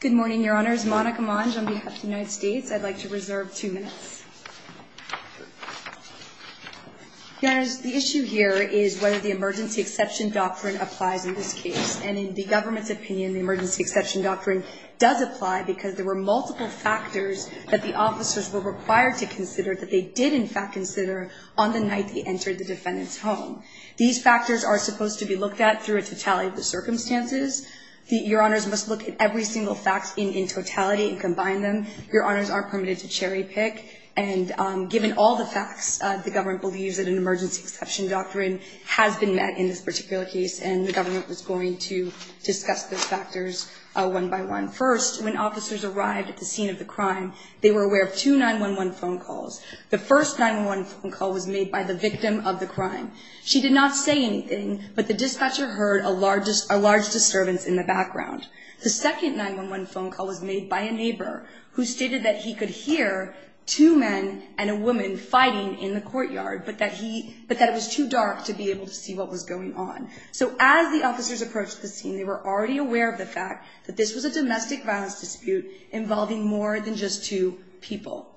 Good morning, Your Honors. Monica Monge on behalf of the United States. I'd like to reserve two minutes. Your Honors, the issue here is whether the Emergency Exception Doctrine applies in this case. And in the government's opinion, the Emergency Exception Doctrine does apply because there were multiple factors that the officers were required to consider that they did in fact consider on the night they entered the defendant's home. These factors are supposed to be looked at through a totality of the circumstances. Your Honors must look at every single fact in totality and combine them. Your Honors are permitted to cherry pick. And given all the facts, the government believes that an Emergency Exception Doctrine has been met in this particular case. And the government was going to discuss those factors one by one. First, when officers arrived at the scene of the crime, they were aware of two 911 phone calls. The first 911 phone call was made by the victim of the crime. She did not say anything, but the dispatcher heard a large disturbance in the background. The second 911 phone call was made by a neighbor who stated that he could hear two men and a woman fighting in the courtyard, but that it was too dark to be able to see what was going on. So as the officers approached the scene, they were already aware of the fact that this was a domestic violence dispute involving more than just two people.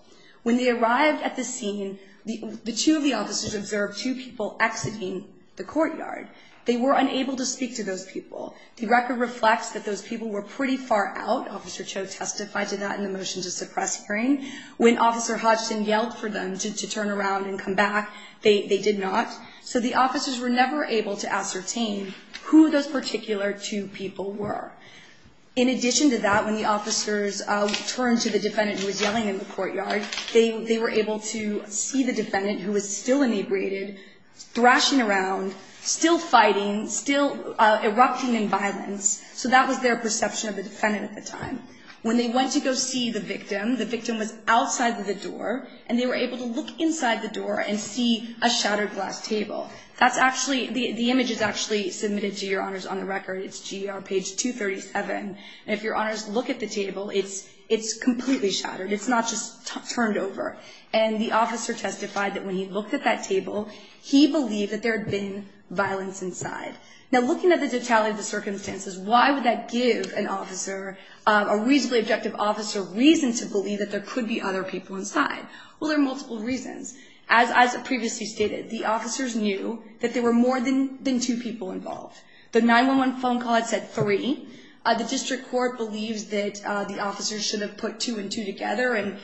When they arrived at the scene, the two of the officers observed two people exiting the courtyard. They were unable to speak to those people. The record reflects that those people were pretty far out. Officer Cho testified to that in the motion to suppress hearing. When Officer Hodgson yelled for them to turn around and come back, they did not. So the officers were never able to ascertain who those particular two people were. In addition to that, when the officers turned to the defendant who was yelling in the courtyard, they were able to see the defendant who was still inebriated, thrashing around, still fighting, still erupting in violence. So that was their perception of the defendant at the time. When they went to go see the victim, the victim was outside the door, and they were able to look inside the door and see a shattered glass table. The image is actually submitted to your honors on the record. It's GR page 237. And if your honors look at the table, it's completely shattered. It's not just turned over. And the officer testified that when he looked at that table, he believed that there had been violence inside. Now, looking at the totality of the circumstances, why would that give an officer, a reasonably objective officer, reason to believe that there could be other people inside? Well, there are multiple reasons. As previously stated, the officers knew that there were more than two people involved. The 911 phone call had said three. The district court believes that the officers should have put two and two together and,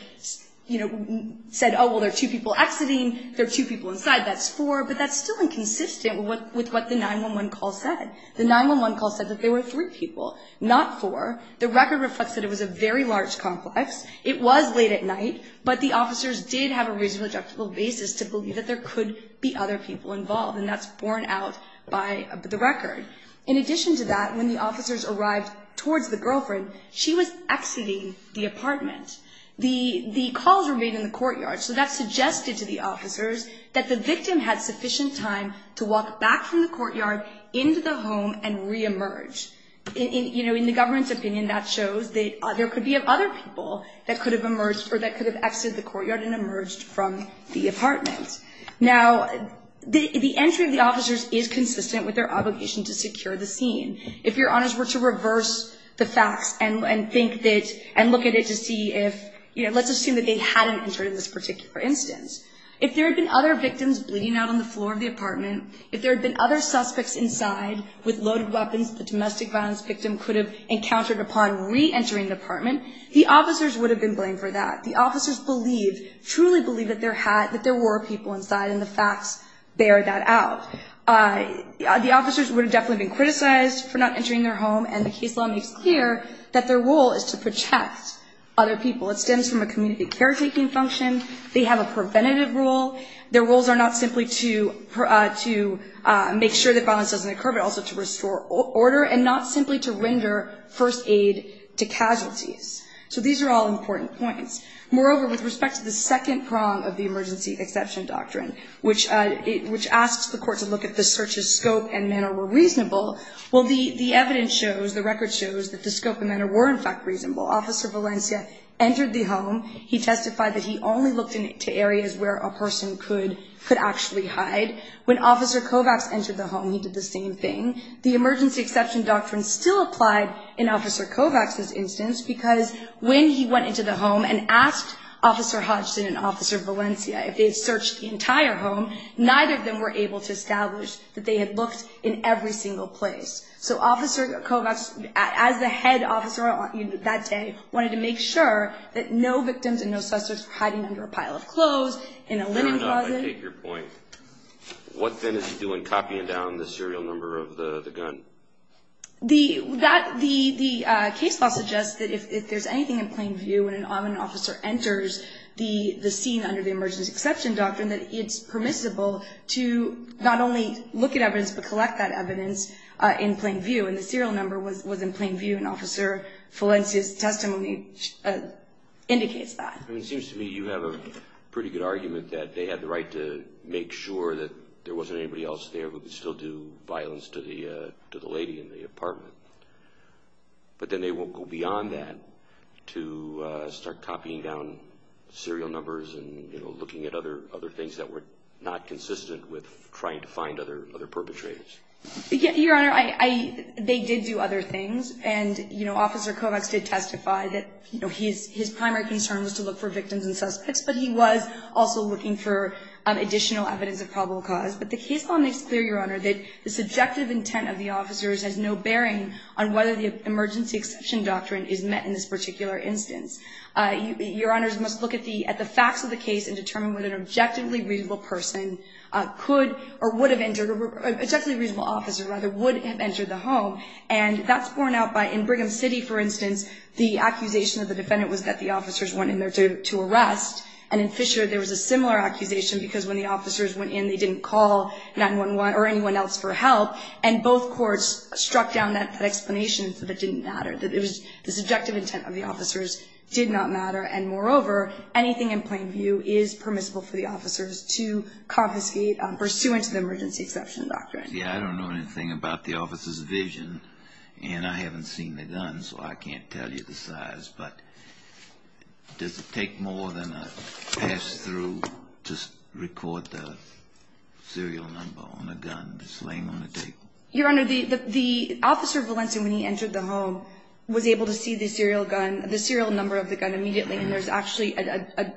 you know, said, oh, well, there are two people exiting, there are two people inside, that's four. But that's still inconsistent with what the 911 call said. The 911 call said that there were three people, not four. The record reflects that it was a very large complex. It was late at night, but the officers did have a reasonably objective basis to believe that there could be other people involved. And that's borne out by the record. In addition to that, when the officers arrived towards the girlfriend, she was exiting the apartment. The calls were made in the courtyard. So that suggested to the officers that the victim had sufficient time to walk back from the courtyard into the home and reemerge. You know, in the government's opinion, that shows that there could be other people that could have emerged or that could have exited the courtyard and emerged from the apartment. Now, the entry of the officers is consistent with their obligation to secure the scene. If your honors were to reverse the facts and think that and look at it to see if, you know, let's assume that they hadn't entered in this particular instance. If there had been other victims bleeding out on the floor of the apartment, if there had been other suspects inside with loaded weapons, the domestic violence victim could have encountered upon reentering the apartment, the officers would have been blamed for that. The officers believe, truly believe that there were people inside and the facts bear that out. The officers would have definitely been criticized for not entering their home, and the case law makes clear that their role is to protect other people. It stems from a community caretaking function. They have a preventative role. Their roles are not simply to make sure that violence doesn't occur, but also to restore order and not simply to render first aid to casualties. So these are all important points. Moreover, with respect to the second prong of the emergency exception doctrine, which asks the court to look at the search's scope and manner were reasonable, well, the evidence shows, the record shows, that the scope and manner were, in fact, reasonable. Officer Valencia entered the home. He testified that he only looked into areas where a person could actually hide. When Officer Kovacs entered the home, he did the same thing. The emergency exception doctrine still applied in Officer Kovacs's instance because when he went into the home and asked Officer Hodgson and Officer Valencia if they had searched the entire home, neither of them were able to establish that they had looked in every single place. So Officer Kovacs, as the head officer that day, wanted to make sure that no victims and no suspects were hiding under a pile of clothes, in a linen closet. Fair enough. I take your point. What then is he doing copying down the serial number of the gun? The case law suggests that if there's anything in plain view when an officer enters the scene under the emergency exception doctrine, that it's permissible to not only look at evidence, but collect that evidence in plain view. And the serial number was in plain view, and Officer Valencia's testimony indicates that. It seems to me you have a pretty good argument that they had the right to make sure that there wasn't anybody else there who could still do violence to the lady in the apartment. But then they won't go beyond that to start copying down serial numbers and looking at other things that were not consistent with trying to find other perpetrators. Your Honor, they did do other things. And Officer Kovacs did testify that his primary concern was to look for victims and suspects, but he was also looking for additional evidence of probable cause. But the case law makes clear, Your Honor, that the subjective intent of the officers has no bearing on whether the emergency exception doctrine is met in this particular instance. Your Honors must look at the facts of the case and determine whether an objectively reasonable person could or would have entered, objectively reasonable officer, rather, would have entered the home. And that's borne out by, in Brigham City, for instance, the accusation of the defendant was that the officers went in there to arrest. And in Fisher, there was a similar accusation, because when the officers went in they didn't call 911 or anyone else for help. And both courts struck down that explanation that it didn't matter, that it was the subjective intent of the officers did not matter. And moreover, anything in plain view is permissible for the officers to confiscate pursuant to the emergency exception doctrine. Yeah, I don't know anything about the officers' vision. And I haven't seen the gun, so I can't tell you the size. But does it take more than a pass-through to record the serial number on the gun that's laying on the table? Your Honor, the officer of Valencia, when he entered the home, was able to see the serial number of the gun immediately. And there's actually a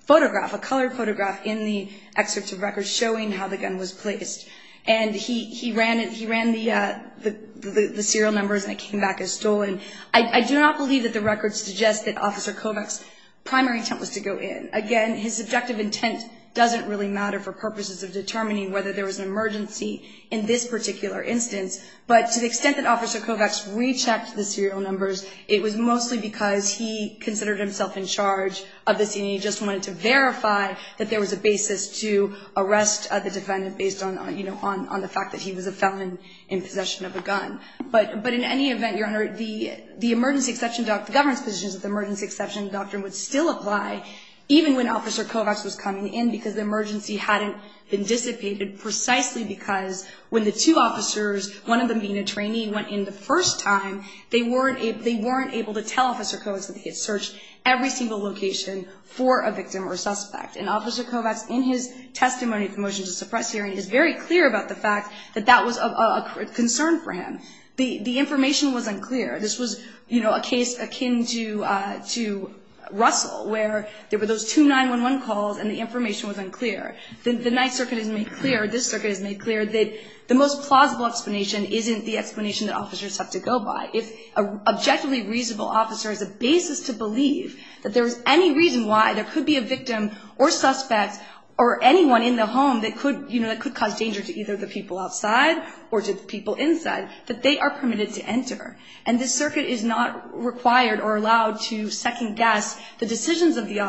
photograph, a colored photograph, in the excerpts of records showing how the gun was placed. And he ran the serial numbers, and it came back as stolen. I do not believe that the records suggest that Officer Kovach's primary intent was to go in. Again, his subjective intent doesn't really matter for purposes of determining whether there was an emergency in this particular instance. But to the extent that Officer Kovach rechecked the serial numbers, it was mostly because he considered himself in charge of the scene, and he just wanted to verify that there was a basis to arrest the defendant based on the fact that he was a felon in possession of a gun. But in any event, Your Honor, the emergency exception, the governance positions of the emergency exception doctrine would still apply even when Officer Kovach was coming in because the emergency hadn't been anticipated precisely because when the two officers, one of them being a trainee, went in the first time, they weren't able to tell Officer Kovach that they had searched every single location for a victim or suspect. And Officer Kovach, in his testimony at the Motion to Suppress hearing, is very clear about the fact that that was of concern for him. The information was unclear. This was a case akin to Russell, where there were those two 911 calls and the information was unclear. The Ninth Circuit has made clear, this Circuit has made clear, that the most plausible explanation isn't the explanation that officers have to go by. If an objectively reasonable officer has a basis to believe that there is any reason why there could be a victim or suspect or anyone in the home that could cause danger to either the people outside or to the people inside, that they are permitted to enter. And the Circuit is not required or allowed to second-guess the decisions of the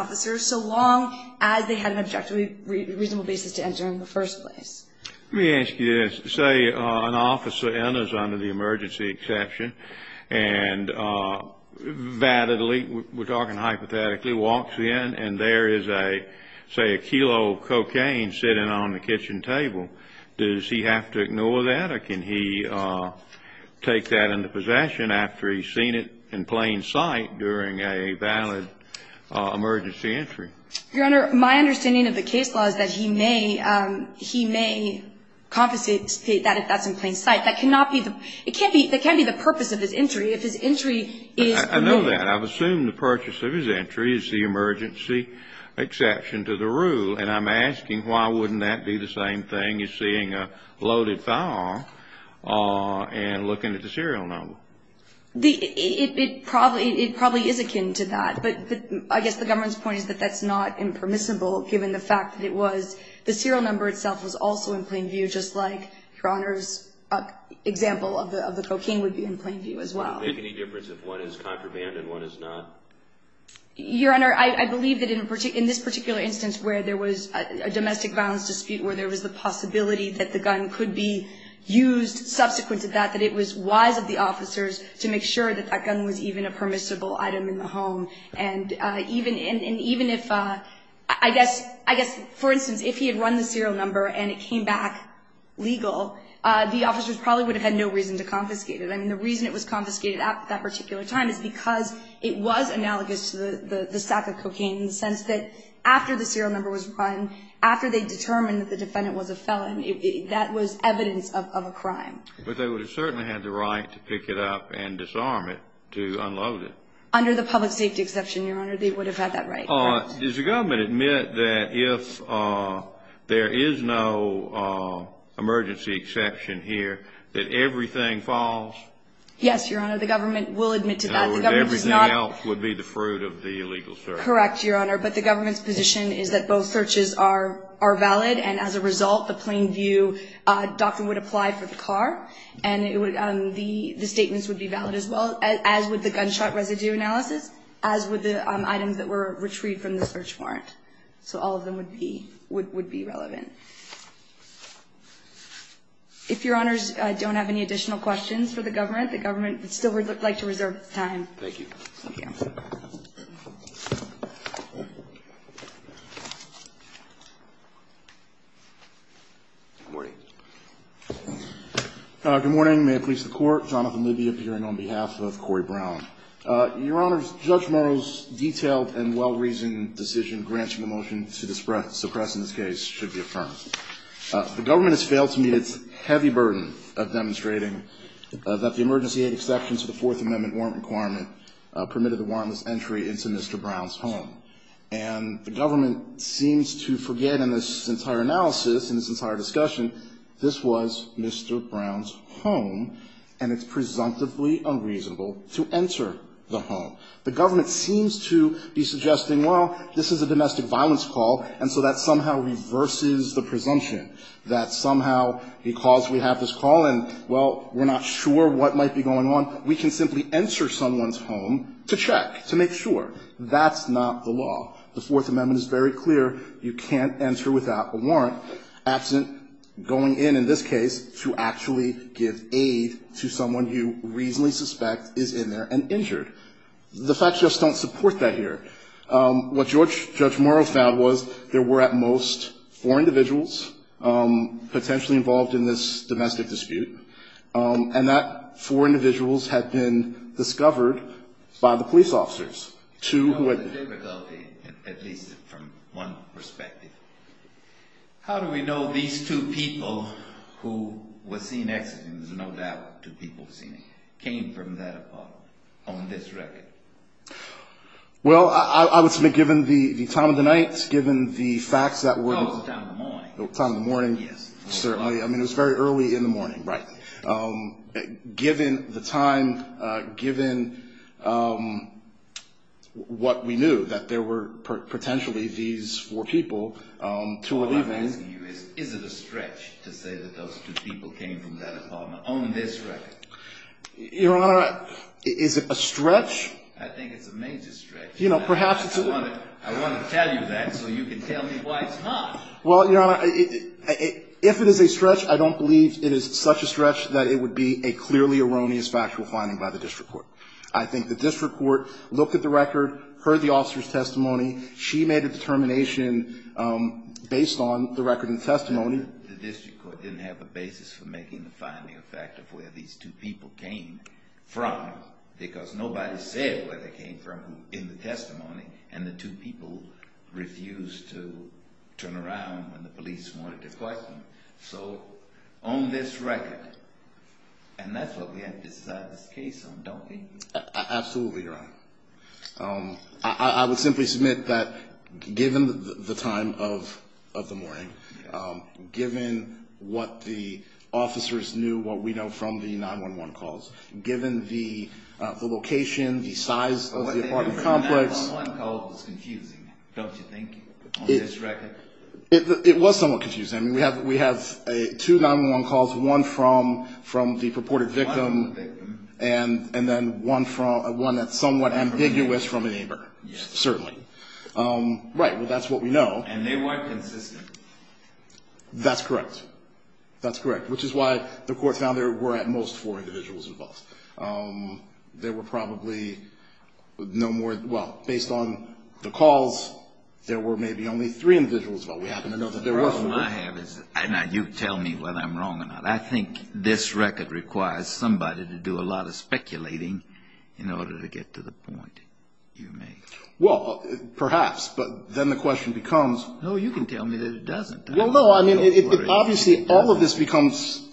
reasonable basis to enter in the first place. Let me ask you this. Say an officer enters under the emergency exception and validly, we're talking hypothetically, walks in and there is a, say, a kilo of cocaine sitting on the kitchen table. Does he have to ignore that or can he take that into possession after he's seen it in plain sight during a valid emergency entry? Your Honor, my understanding of the case law is that he may, he may confiscate that if that's in plain sight. That cannot be the, it can't be, that can't be the purpose of his entry. If his entry is permitted. I know that. I've assumed the purpose of his entry is the emergency exception to the rule, and I'm asking why wouldn't that be the same thing as seeing a loaded firearm and looking at the serial number? The, it probably, it probably is akin to that. But I guess the government's point is that that's not impermissible, given the fact that it was, the serial number itself was also in plain view just like Your Honor's example of the cocaine would be in plain view as well. Would it make any difference if one is contraband and one is not? Your Honor, I believe that in this particular instance where there was a domestic violence dispute, where there was the possibility that the gun could be used subsequent to that, that it was wise of the officers to make sure that that gun was even a firearm and even if, I guess, for instance, if he had run the serial number and it came back legal, the officers probably would have had no reason to confiscate it. I mean, the reason it was confiscated at that particular time is because it was analogous to the sack of cocaine in the sense that after the serial number was run, after they determined that the defendant was a felon, that was evidence of a crime. But they would have certainly had the right to pick it up and disarm it to unload it. Under the public safety exception, Your Honor, they would have had that right. Does the government admit that if there is no emergency exception here, that everything falls? Yes, Your Honor, the government will admit to that. Everything else would be the fruit of the illegal search. Correct, Your Honor, but the government's position is that both searches are valid and as a result, the plain view doctrine would apply for the car and the statements would be as with the items that were retrieved from the search warrant. So all of them would be relevant. If Your Honors don't have any additional questions for the government, the government would still like to reserve time. Thank you. Good morning. Good morning. May it please the Court, Jonathan Libby appearing on behalf of Corey Brown. Your Honors, Judge Morrow's detailed and well-reasoned decision granting the motion to suppress in this case should be affirmed. The government has failed to meet its heavy burden of demonstrating that the emergency aid exception to the Fourth Amendment warrant requirement permitted the warrantless entry into Mr. Brown's home. And the government seems to forget in this entire analysis, in this entire discussion, this was Mr. Brown's home, and it's presumptively unreasonable to enter the home. The government seems to be suggesting, well, this is a domestic violence call, and so that somehow reverses the presumption that somehow because we have this call and, well, we're not sure what might be going on, we can simply enter someone's home to check, to make sure. That's not the law. The Fourth Amendment is very clear. You can't enter without a warrant, absent going in, in this case, to actually give aid to someone you reasonably suspect is in there and injured. The facts just don't support that here. What Judge Morrow found was there were at most four individuals potentially involved in this domestic dispute, and that four individuals had been discovered by the police officers. You know the difficulty, at least from one perspective. How do we know these two people who were seen exiting, there's no doubt two people seen came from that apartment, on this record? Well, I would submit given the time of the night, given the facts that were Of course, the time of the morning. The time of the morning, certainly. I mean, it was very early in the morning, right. Given the time, given what we knew, that there were potentially these four people Two were leaving. All I'm asking you is, is it a stretch to say that those two people came from that apartment on this record? Your Honor, is it a stretch? I think it's a major stretch. You know, perhaps it's a I want to tell you that so you can tell me why it's not. Well, Your Honor, if it is a stretch, I don't believe it is such a stretch that it would be a clearly erroneous factual finding by the district court. I think the district court looked at the record, heard the officer's testimony. She made a determination based on the record and testimony. The district court didn't have a basis for making the finding a fact of where these two people came from, because nobody said where they came from in the testimony, and the two people refused to turn around when the police wanted to question them. So, on this record, and that's what we have to decide this case on, don't we? Absolutely, Your Honor. I would simply submit that, given the time of the morning, given what the officers knew, what we know from the 911 calls, given the location, the size of the apartment complex. The 911 call was confusing, don't you think, on this record? It was somewhat confusing. I mean, we have two 911 calls, one from the purported victim, and then one that's somewhat ambiguous from a neighbor, certainly. Right, well, that's what we know. And they weren't consistent. That's correct. That's correct, which is why the court found there were at most four individuals involved. There were probably no more, well, based on the calls, there were maybe only three individuals involved. We happen to know that there were four. Now, you tell me whether I'm wrong or not. I think this record requires somebody to do a lot of speculating in order to get to the point you make. Well, perhaps, but then the question becomes. No, you can tell me that it doesn't. Well, no, I mean, obviously all of this becomes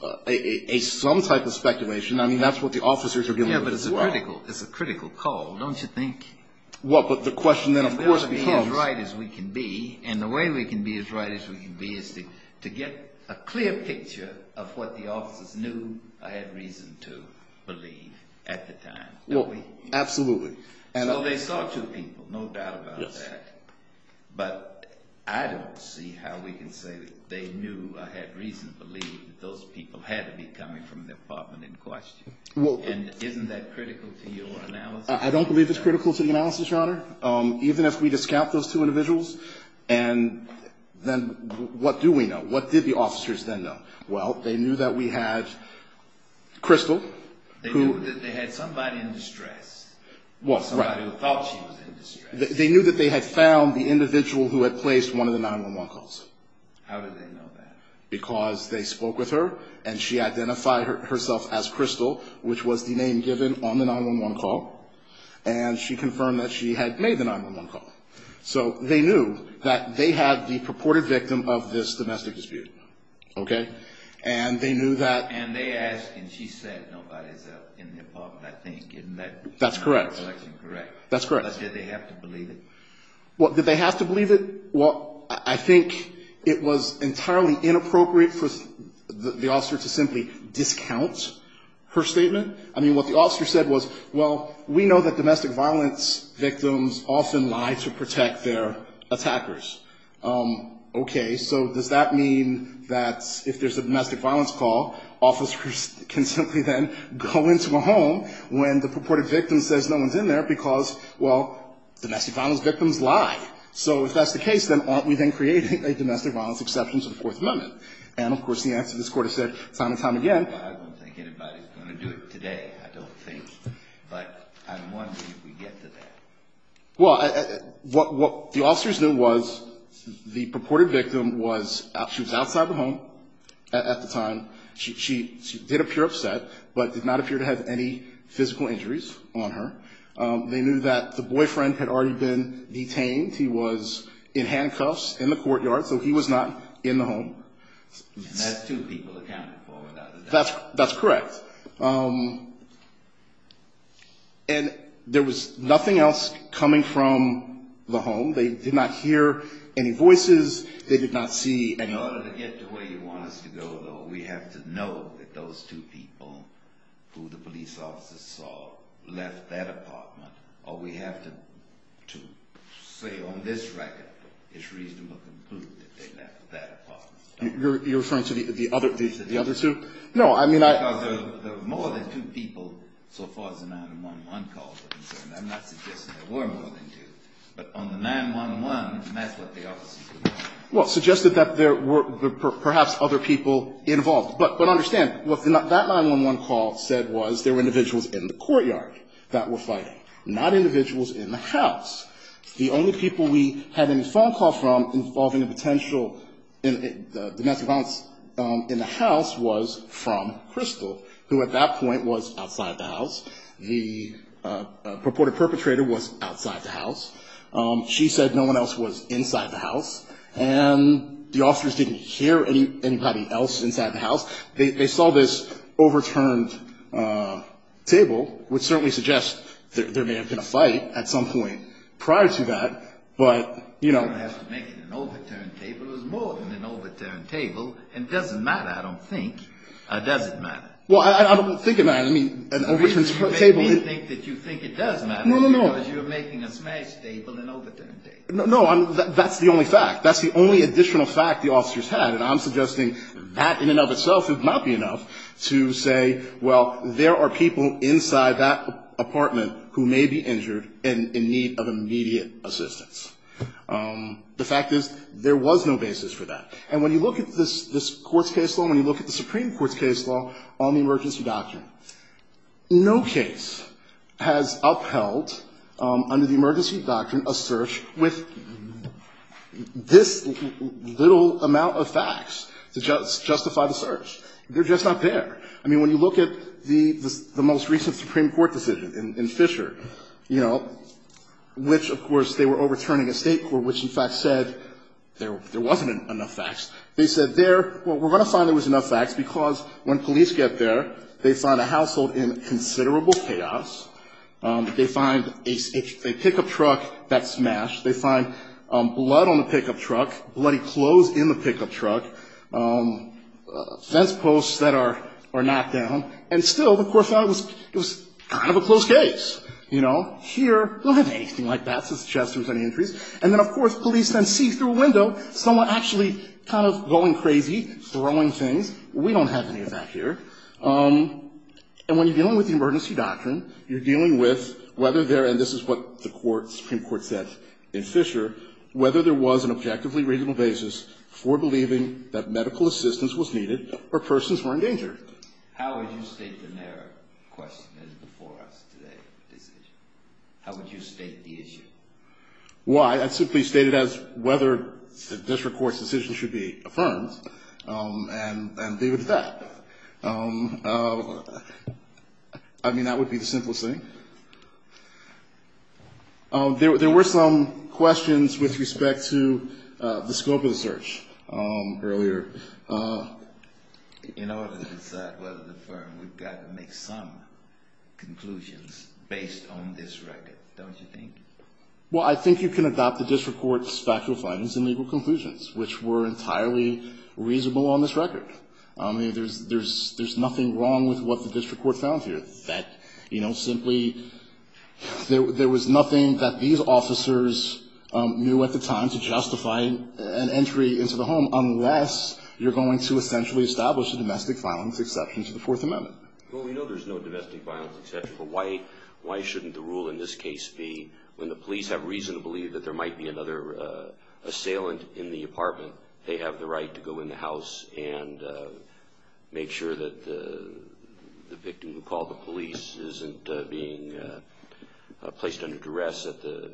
some type of speculation. I mean, that's what the officers are dealing with as well. Yeah, but it's a critical call, don't you think? Well, but the question then, of course, becomes. We ought to be as right as we can be, and the way we can be as right as we can be is to get a clear picture of what the officers knew or had reason to believe at the time, don't we? Absolutely. So they saw two people, no doubt about that. But I don't see how we can say they knew or had reason to believe that those people had to be coming from the apartment in question. And isn't that critical to your analysis? I don't believe it's critical to the analysis, Your Honor, even if we discount those two individuals. And then what do we know? What did the officers then know? Well, they knew that we had Crystal. They knew that they had somebody in distress, somebody who thought she was in distress. They knew that they had found the individual who had placed one of the 911 calls. How did they know that? Because they spoke with her, and she identified herself as Crystal, which was the name given on the 911 call. And she confirmed that she had made the 911 call. So they knew that they had the purported victim of this domestic dispute. Okay? And they knew that. And they asked, and she said, nobody's in the apartment, I think. Isn't that collection correct? That's correct. But did they have to believe it? What, did they have to believe it? Well, I think it was entirely inappropriate for the officer to simply discount her statement. I mean, what the officer said was, well, we know that domestic violence victims often lie to protect their attackers. Okay, so does that mean that if there's a domestic violence call, officers can simply then go into a home when the purported victim says no one's in there because, well, domestic violence victims lie. So if that's the case, then aren't we then creating a domestic violence exception to the Fourth Amendment? And, of course, the answer to this court is said time and time again. Well, I don't think anybody's going to do it today, I don't think. But I'm wondering if we get to that. Well, what the officers knew was the purported victim was, she was outside the home at the time. She did appear upset, but did not appear to have any physical injuries on her. They knew that the boyfriend had already been detained. He was in handcuffs in the courtyard, so he was not in the home. And that's two people accounted for. That's correct. And there was nothing else coming from the home. They did not hear any voices. They did not see anyone. In order to get to where you want us to go, though, we have to know that those two people who the police officers saw left that apartment, or we have to say on this record it's reasonable to conclude that they left that apartment. You're referring to the other two? No, I mean, I... Because there were more than two people so far as the 911 calls were concerned. I'm not suggesting there were more than two. But on the 911, that's what the officers... Well, suggested that there were perhaps other people involved. But understand, what that 911 call said was there were individuals in the courtyard that were fighting, not individuals in the house. The only people we had any phone call from involving a potential domestic violence in the house was from Crystal, who at that point was outside the house. The purported perpetrator was outside the house. She said no one else was inside the house. And the officers didn't hear anybody else inside the house. They saw this overturned table, which certainly suggests there may have been a fight at some point prior to that. But, you know... You don't have to make it an overturned table. It was more than an overturned table. And it doesn't matter, I don't think. It doesn't matter. Well, I don't think it matters. I mean, an overturned table... You make me think that you think it does matter. No, no, no. Because you're making a smashed table an overturned table. No, that's the only fact. That's the only additional fact the officers had, and I'm suggesting that in and of itself would not be enough to say, well, there are people inside that apartment who may be injured and in need of immediate assistance. The fact is, there was no basis for that. And when you look at this Court's case law, when you look at the Supreme Court's case law on the emergency doctrine, no case has upheld under the emergency doctrine a search with this little amount of facts to justify the search. They're just not there. I mean, when you look at the most recent Supreme Court decision in Fisher, you know, which, of course, they were overturning a State court which, in fact, said there wasn't enough facts. They said there, well, we're going to find there was enough facts, because when police get there, they find a household in considerable chaos. They find a pickup truck that's smashed. They find blood on the pickup truck, bloody clothes in the pickup truck, fence posts that are knocked down. And still, the Court found it was kind of a close case. You know, here, we don't have anything like that to suggest there was any injuries. And then, of course, police then see through a window someone actually kind of going crazy, throwing things. We don't have any of that here. And when you're dealing with the emergency doctrine, you're dealing with whether there – and this is what the Supreme Court said in Fisher – whether there was an objectively reasonable basis for believing that medical assistance was needed or persons were in danger. How would you state the narrow question that is before us today? How would you state the issue? Well, I'd simply state it as whether the district court's decision should be affirmed and leave it at that. I mean, that would be the simplest thing. There were some questions with respect to the scope of the search earlier. In order to decide whether to affirm, we've got to make some conclusions based on this record, don't you think? Well, I think you can adopt the district court's factual findings and legal conclusions, which were entirely reasonable on this record. I mean, there's nothing wrong with what the district court found here. That, you know, simply there was nothing that these officers knew at the time to justify an entry into the home, unless you're going to essentially establish a domestic violence exception to the Fourth Amendment. Well, we know there's no domestic violence exception, but why shouldn't the rule in this case be, when the police have reason to believe that there might be another assailant in the apartment, they have the right to go in the house and make sure that the victim who called the police isn't being placed under duress at the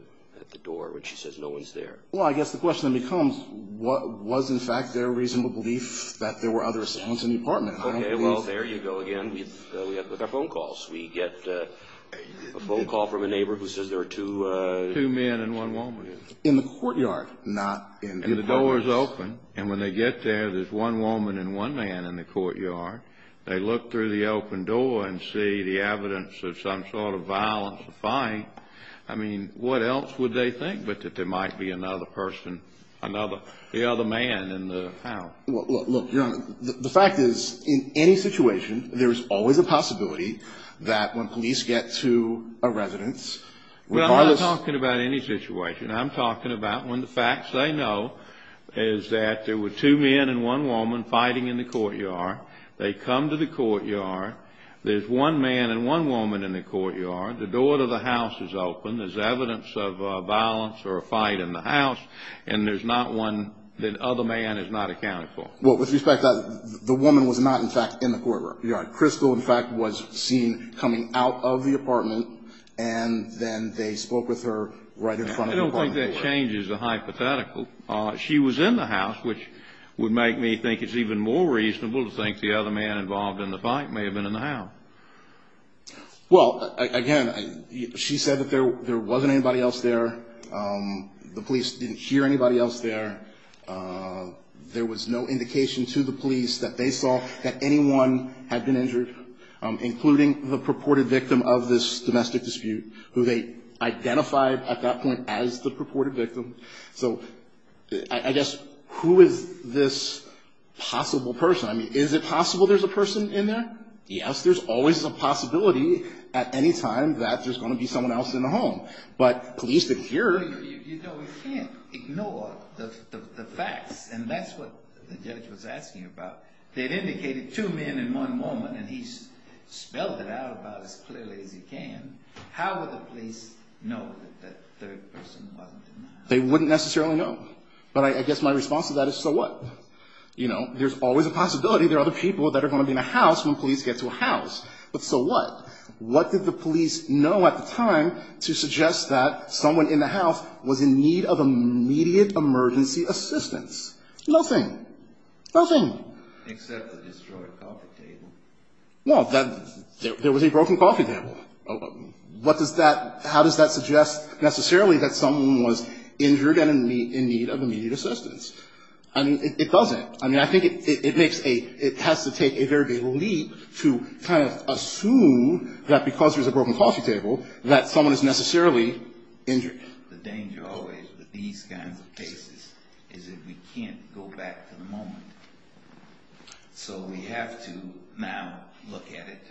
door when she says no one's there? Well, I guess the question then becomes, was, in fact, there reasonable belief that there were other assailants in the apartment? Okay, well, there you go again with our phone calls. We get a phone call from a neighbor who says there are two men and one woman. In the courtyard, not in the apartments. And the door is open, and when they get there, there's one woman and one man in the courtyard. They look through the open door and see the evidence of some sort of violence or fight. I mean, what else would they think but that there might be another person, the other man in the house? Well, look, Your Honor, the fact is, in any situation, there is always a possibility that when police get to a residence, regardless of the situation, I'm talking about when the facts say no, is that there were two men and one woman fighting in the courtyard. They come to the courtyard. There's one man and one woman in the courtyard. The door to the house is open. There's evidence of violence or a fight in the house, and there's not one that other man has not accounted for. Well, with respect to that, the woman was not, in fact, in the courtyard. Crystal, in fact, was seen coming out of the apartment, and then they spoke with her right in front of the apartment. I don't think that changes the hypothetical. She was in the house, which would make me think it's even more reasonable to think the other man involved in the fight may have been in the house. Well, again, she said that there wasn't anybody else there. The police didn't hear anybody else there. There was no indication to the police that they saw that anyone had been injured, including the purported victim of this domestic dispute, who they identified at that point as the purported victim. So I guess who is this possible person? I mean, is it possible there's a person in there? Yes, there's always a possibility at any time that there's going to be someone else in the home, but police didn't hear. You know, we can't ignore the facts, and that's what the judge was asking about. They had indicated two men and one woman, and he's spelled it out about as clearly as he can. How would the police know that that third person wasn't in the house? They wouldn't necessarily know, but I guess my response to that is, so what? You know, there's always a possibility there are other people that are going to be in the house when police get to a house, but so what? What did the police know at the time to suggest that someone in the house was in need of immediate emergency assistance? Nothing. Nothing. Breyer. Except the destroyed coffee table. No. There was a broken coffee table. What does that – how does that suggest necessarily that someone was injured and in need of immediate assistance? I mean, it doesn't. I mean, I think it makes a – it has to take a very big leap to kind of assume that because there's a broken coffee table that someone is necessarily injured. The danger always with these kinds of cases is that we can't go back to the moment, so we have to now look at it.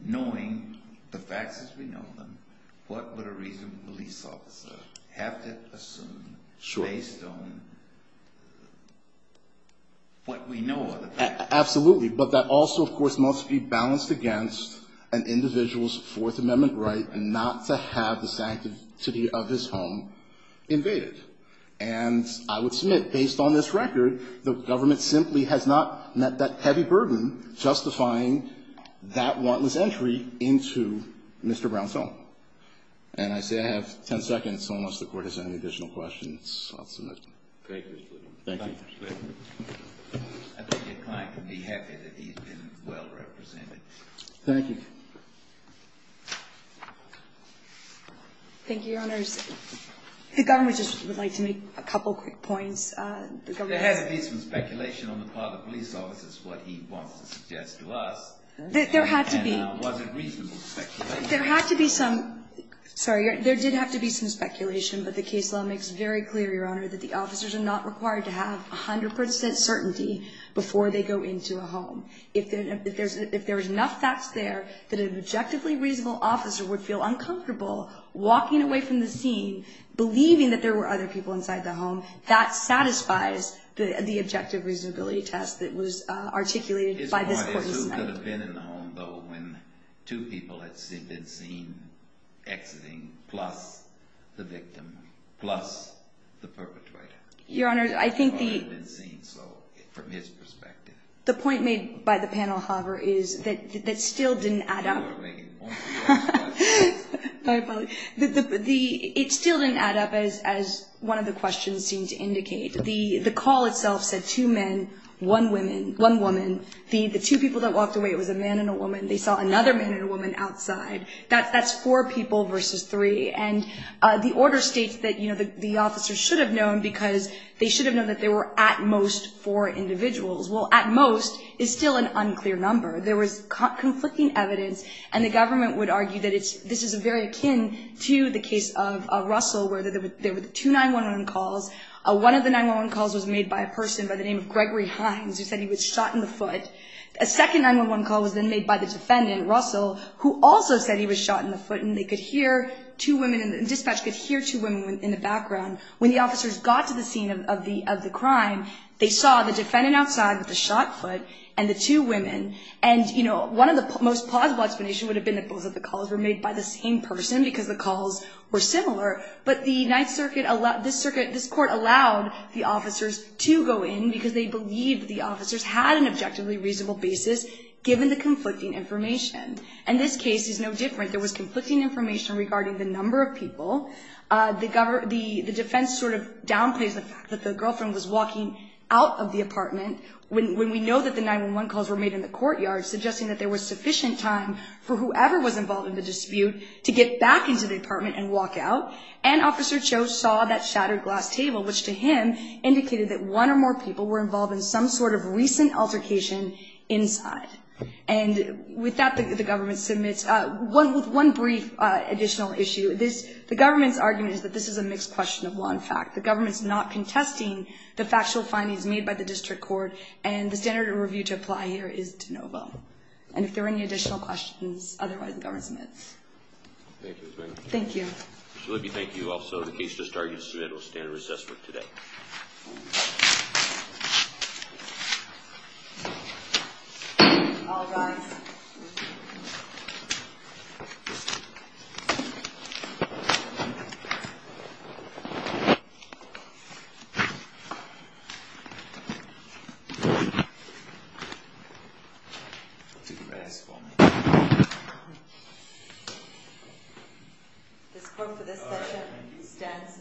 Knowing the facts as we know them, what would a reasonable police officer have to assume based on what we know are the facts? Absolutely. But that also, of course, must be balanced against an individual's Fourth Amendment right not to have the sanctity of his home invaded. And I would submit, based on this record, the government simply has not met that heavy burden justifying that wantless entry into Mr. Brown's home. And I say I have 10 seconds, so unless the Court has any additional questions, I'll submit. Thank you. I think your client would be happy that he's been well represented. Thank you. Thank you, Your Honors. The government just would like to make a couple quick points. There has to be some speculation on the part of the police officers what he wants to suggest to us. There had to be. And was it reasonable speculation? There had to be some – sorry, there did have to be some speculation, but the case law makes very clear, Your Honor, that the officers are not required to have 100 percent certainty before they go into a home. If there's enough facts there that an objectively reasonable officer would feel uncomfortable walking away from the scene believing that there were other people inside the home, that satisfies the objective reasonability test that was articulated by this Court this night. His point is who could have been in the home, though, when two people had been seen exiting, plus the victim, plus the perpetrator. Your Honor, I think the – Who could have been seen, so, from his perspective. The point made by the panel, however, is that still didn't add up. It still didn't add up, as one of the questions seemed to indicate. The call itself said two men, one woman. The two people that walked away, it was a man and a woman. They saw another man and a woman outside. That's four people versus three. And the order states that the officers should have known because they should have known that there were at most four individuals. Well, at most is still an unclear number. There was conflicting evidence, and the government would argue that this is very akin to the case of Russell, where there were two 911 calls. One of the 911 calls was made by a person by the name of Gregory Hines, who said he was shot in the foot. A second 911 call was then made by the defendant, Russell, who also said he was shot in the foot. And they could hear two women – the dispatch could hear two women in the background. When the officers got to the scene of the crime, they saw the defendant outside with the shot foot and the two women. And, you know, one of the most plausible explanations would have been that both of the calls were made by the same person because the calls were similar. But the Ninth Circuit – this court allowed the officers to go in because they believed the officers had an objectively reasonable basis, given the conflicting information. And this case is no different. There was conflicting information regarding the number of people. The defense sort of downplays the fact that the girlfriend was walking out of the apartment when we know that the 911 calls were made in the courtyard, suggesting that there was sufficient time for whoever was involved in the dispute to get back into the apartment and walk out. And Officer Cho saw that shattered glass table, which to him indicated that one or more people were involved in some sort of recent altercation inside. And with that, the government submits – with one brief additional issue. The government's argument is that this is a mixed question of law and fact. The government's not contesting the factual findings made by the district court. And the standard of review to apply here is de novo. And if there are any additional questions, otherwise, the government submits. Thank you. Thank you. Thank you. Thank you, Officer. The case is started. It will stand in recess for today. Thank you. It stands adjourned.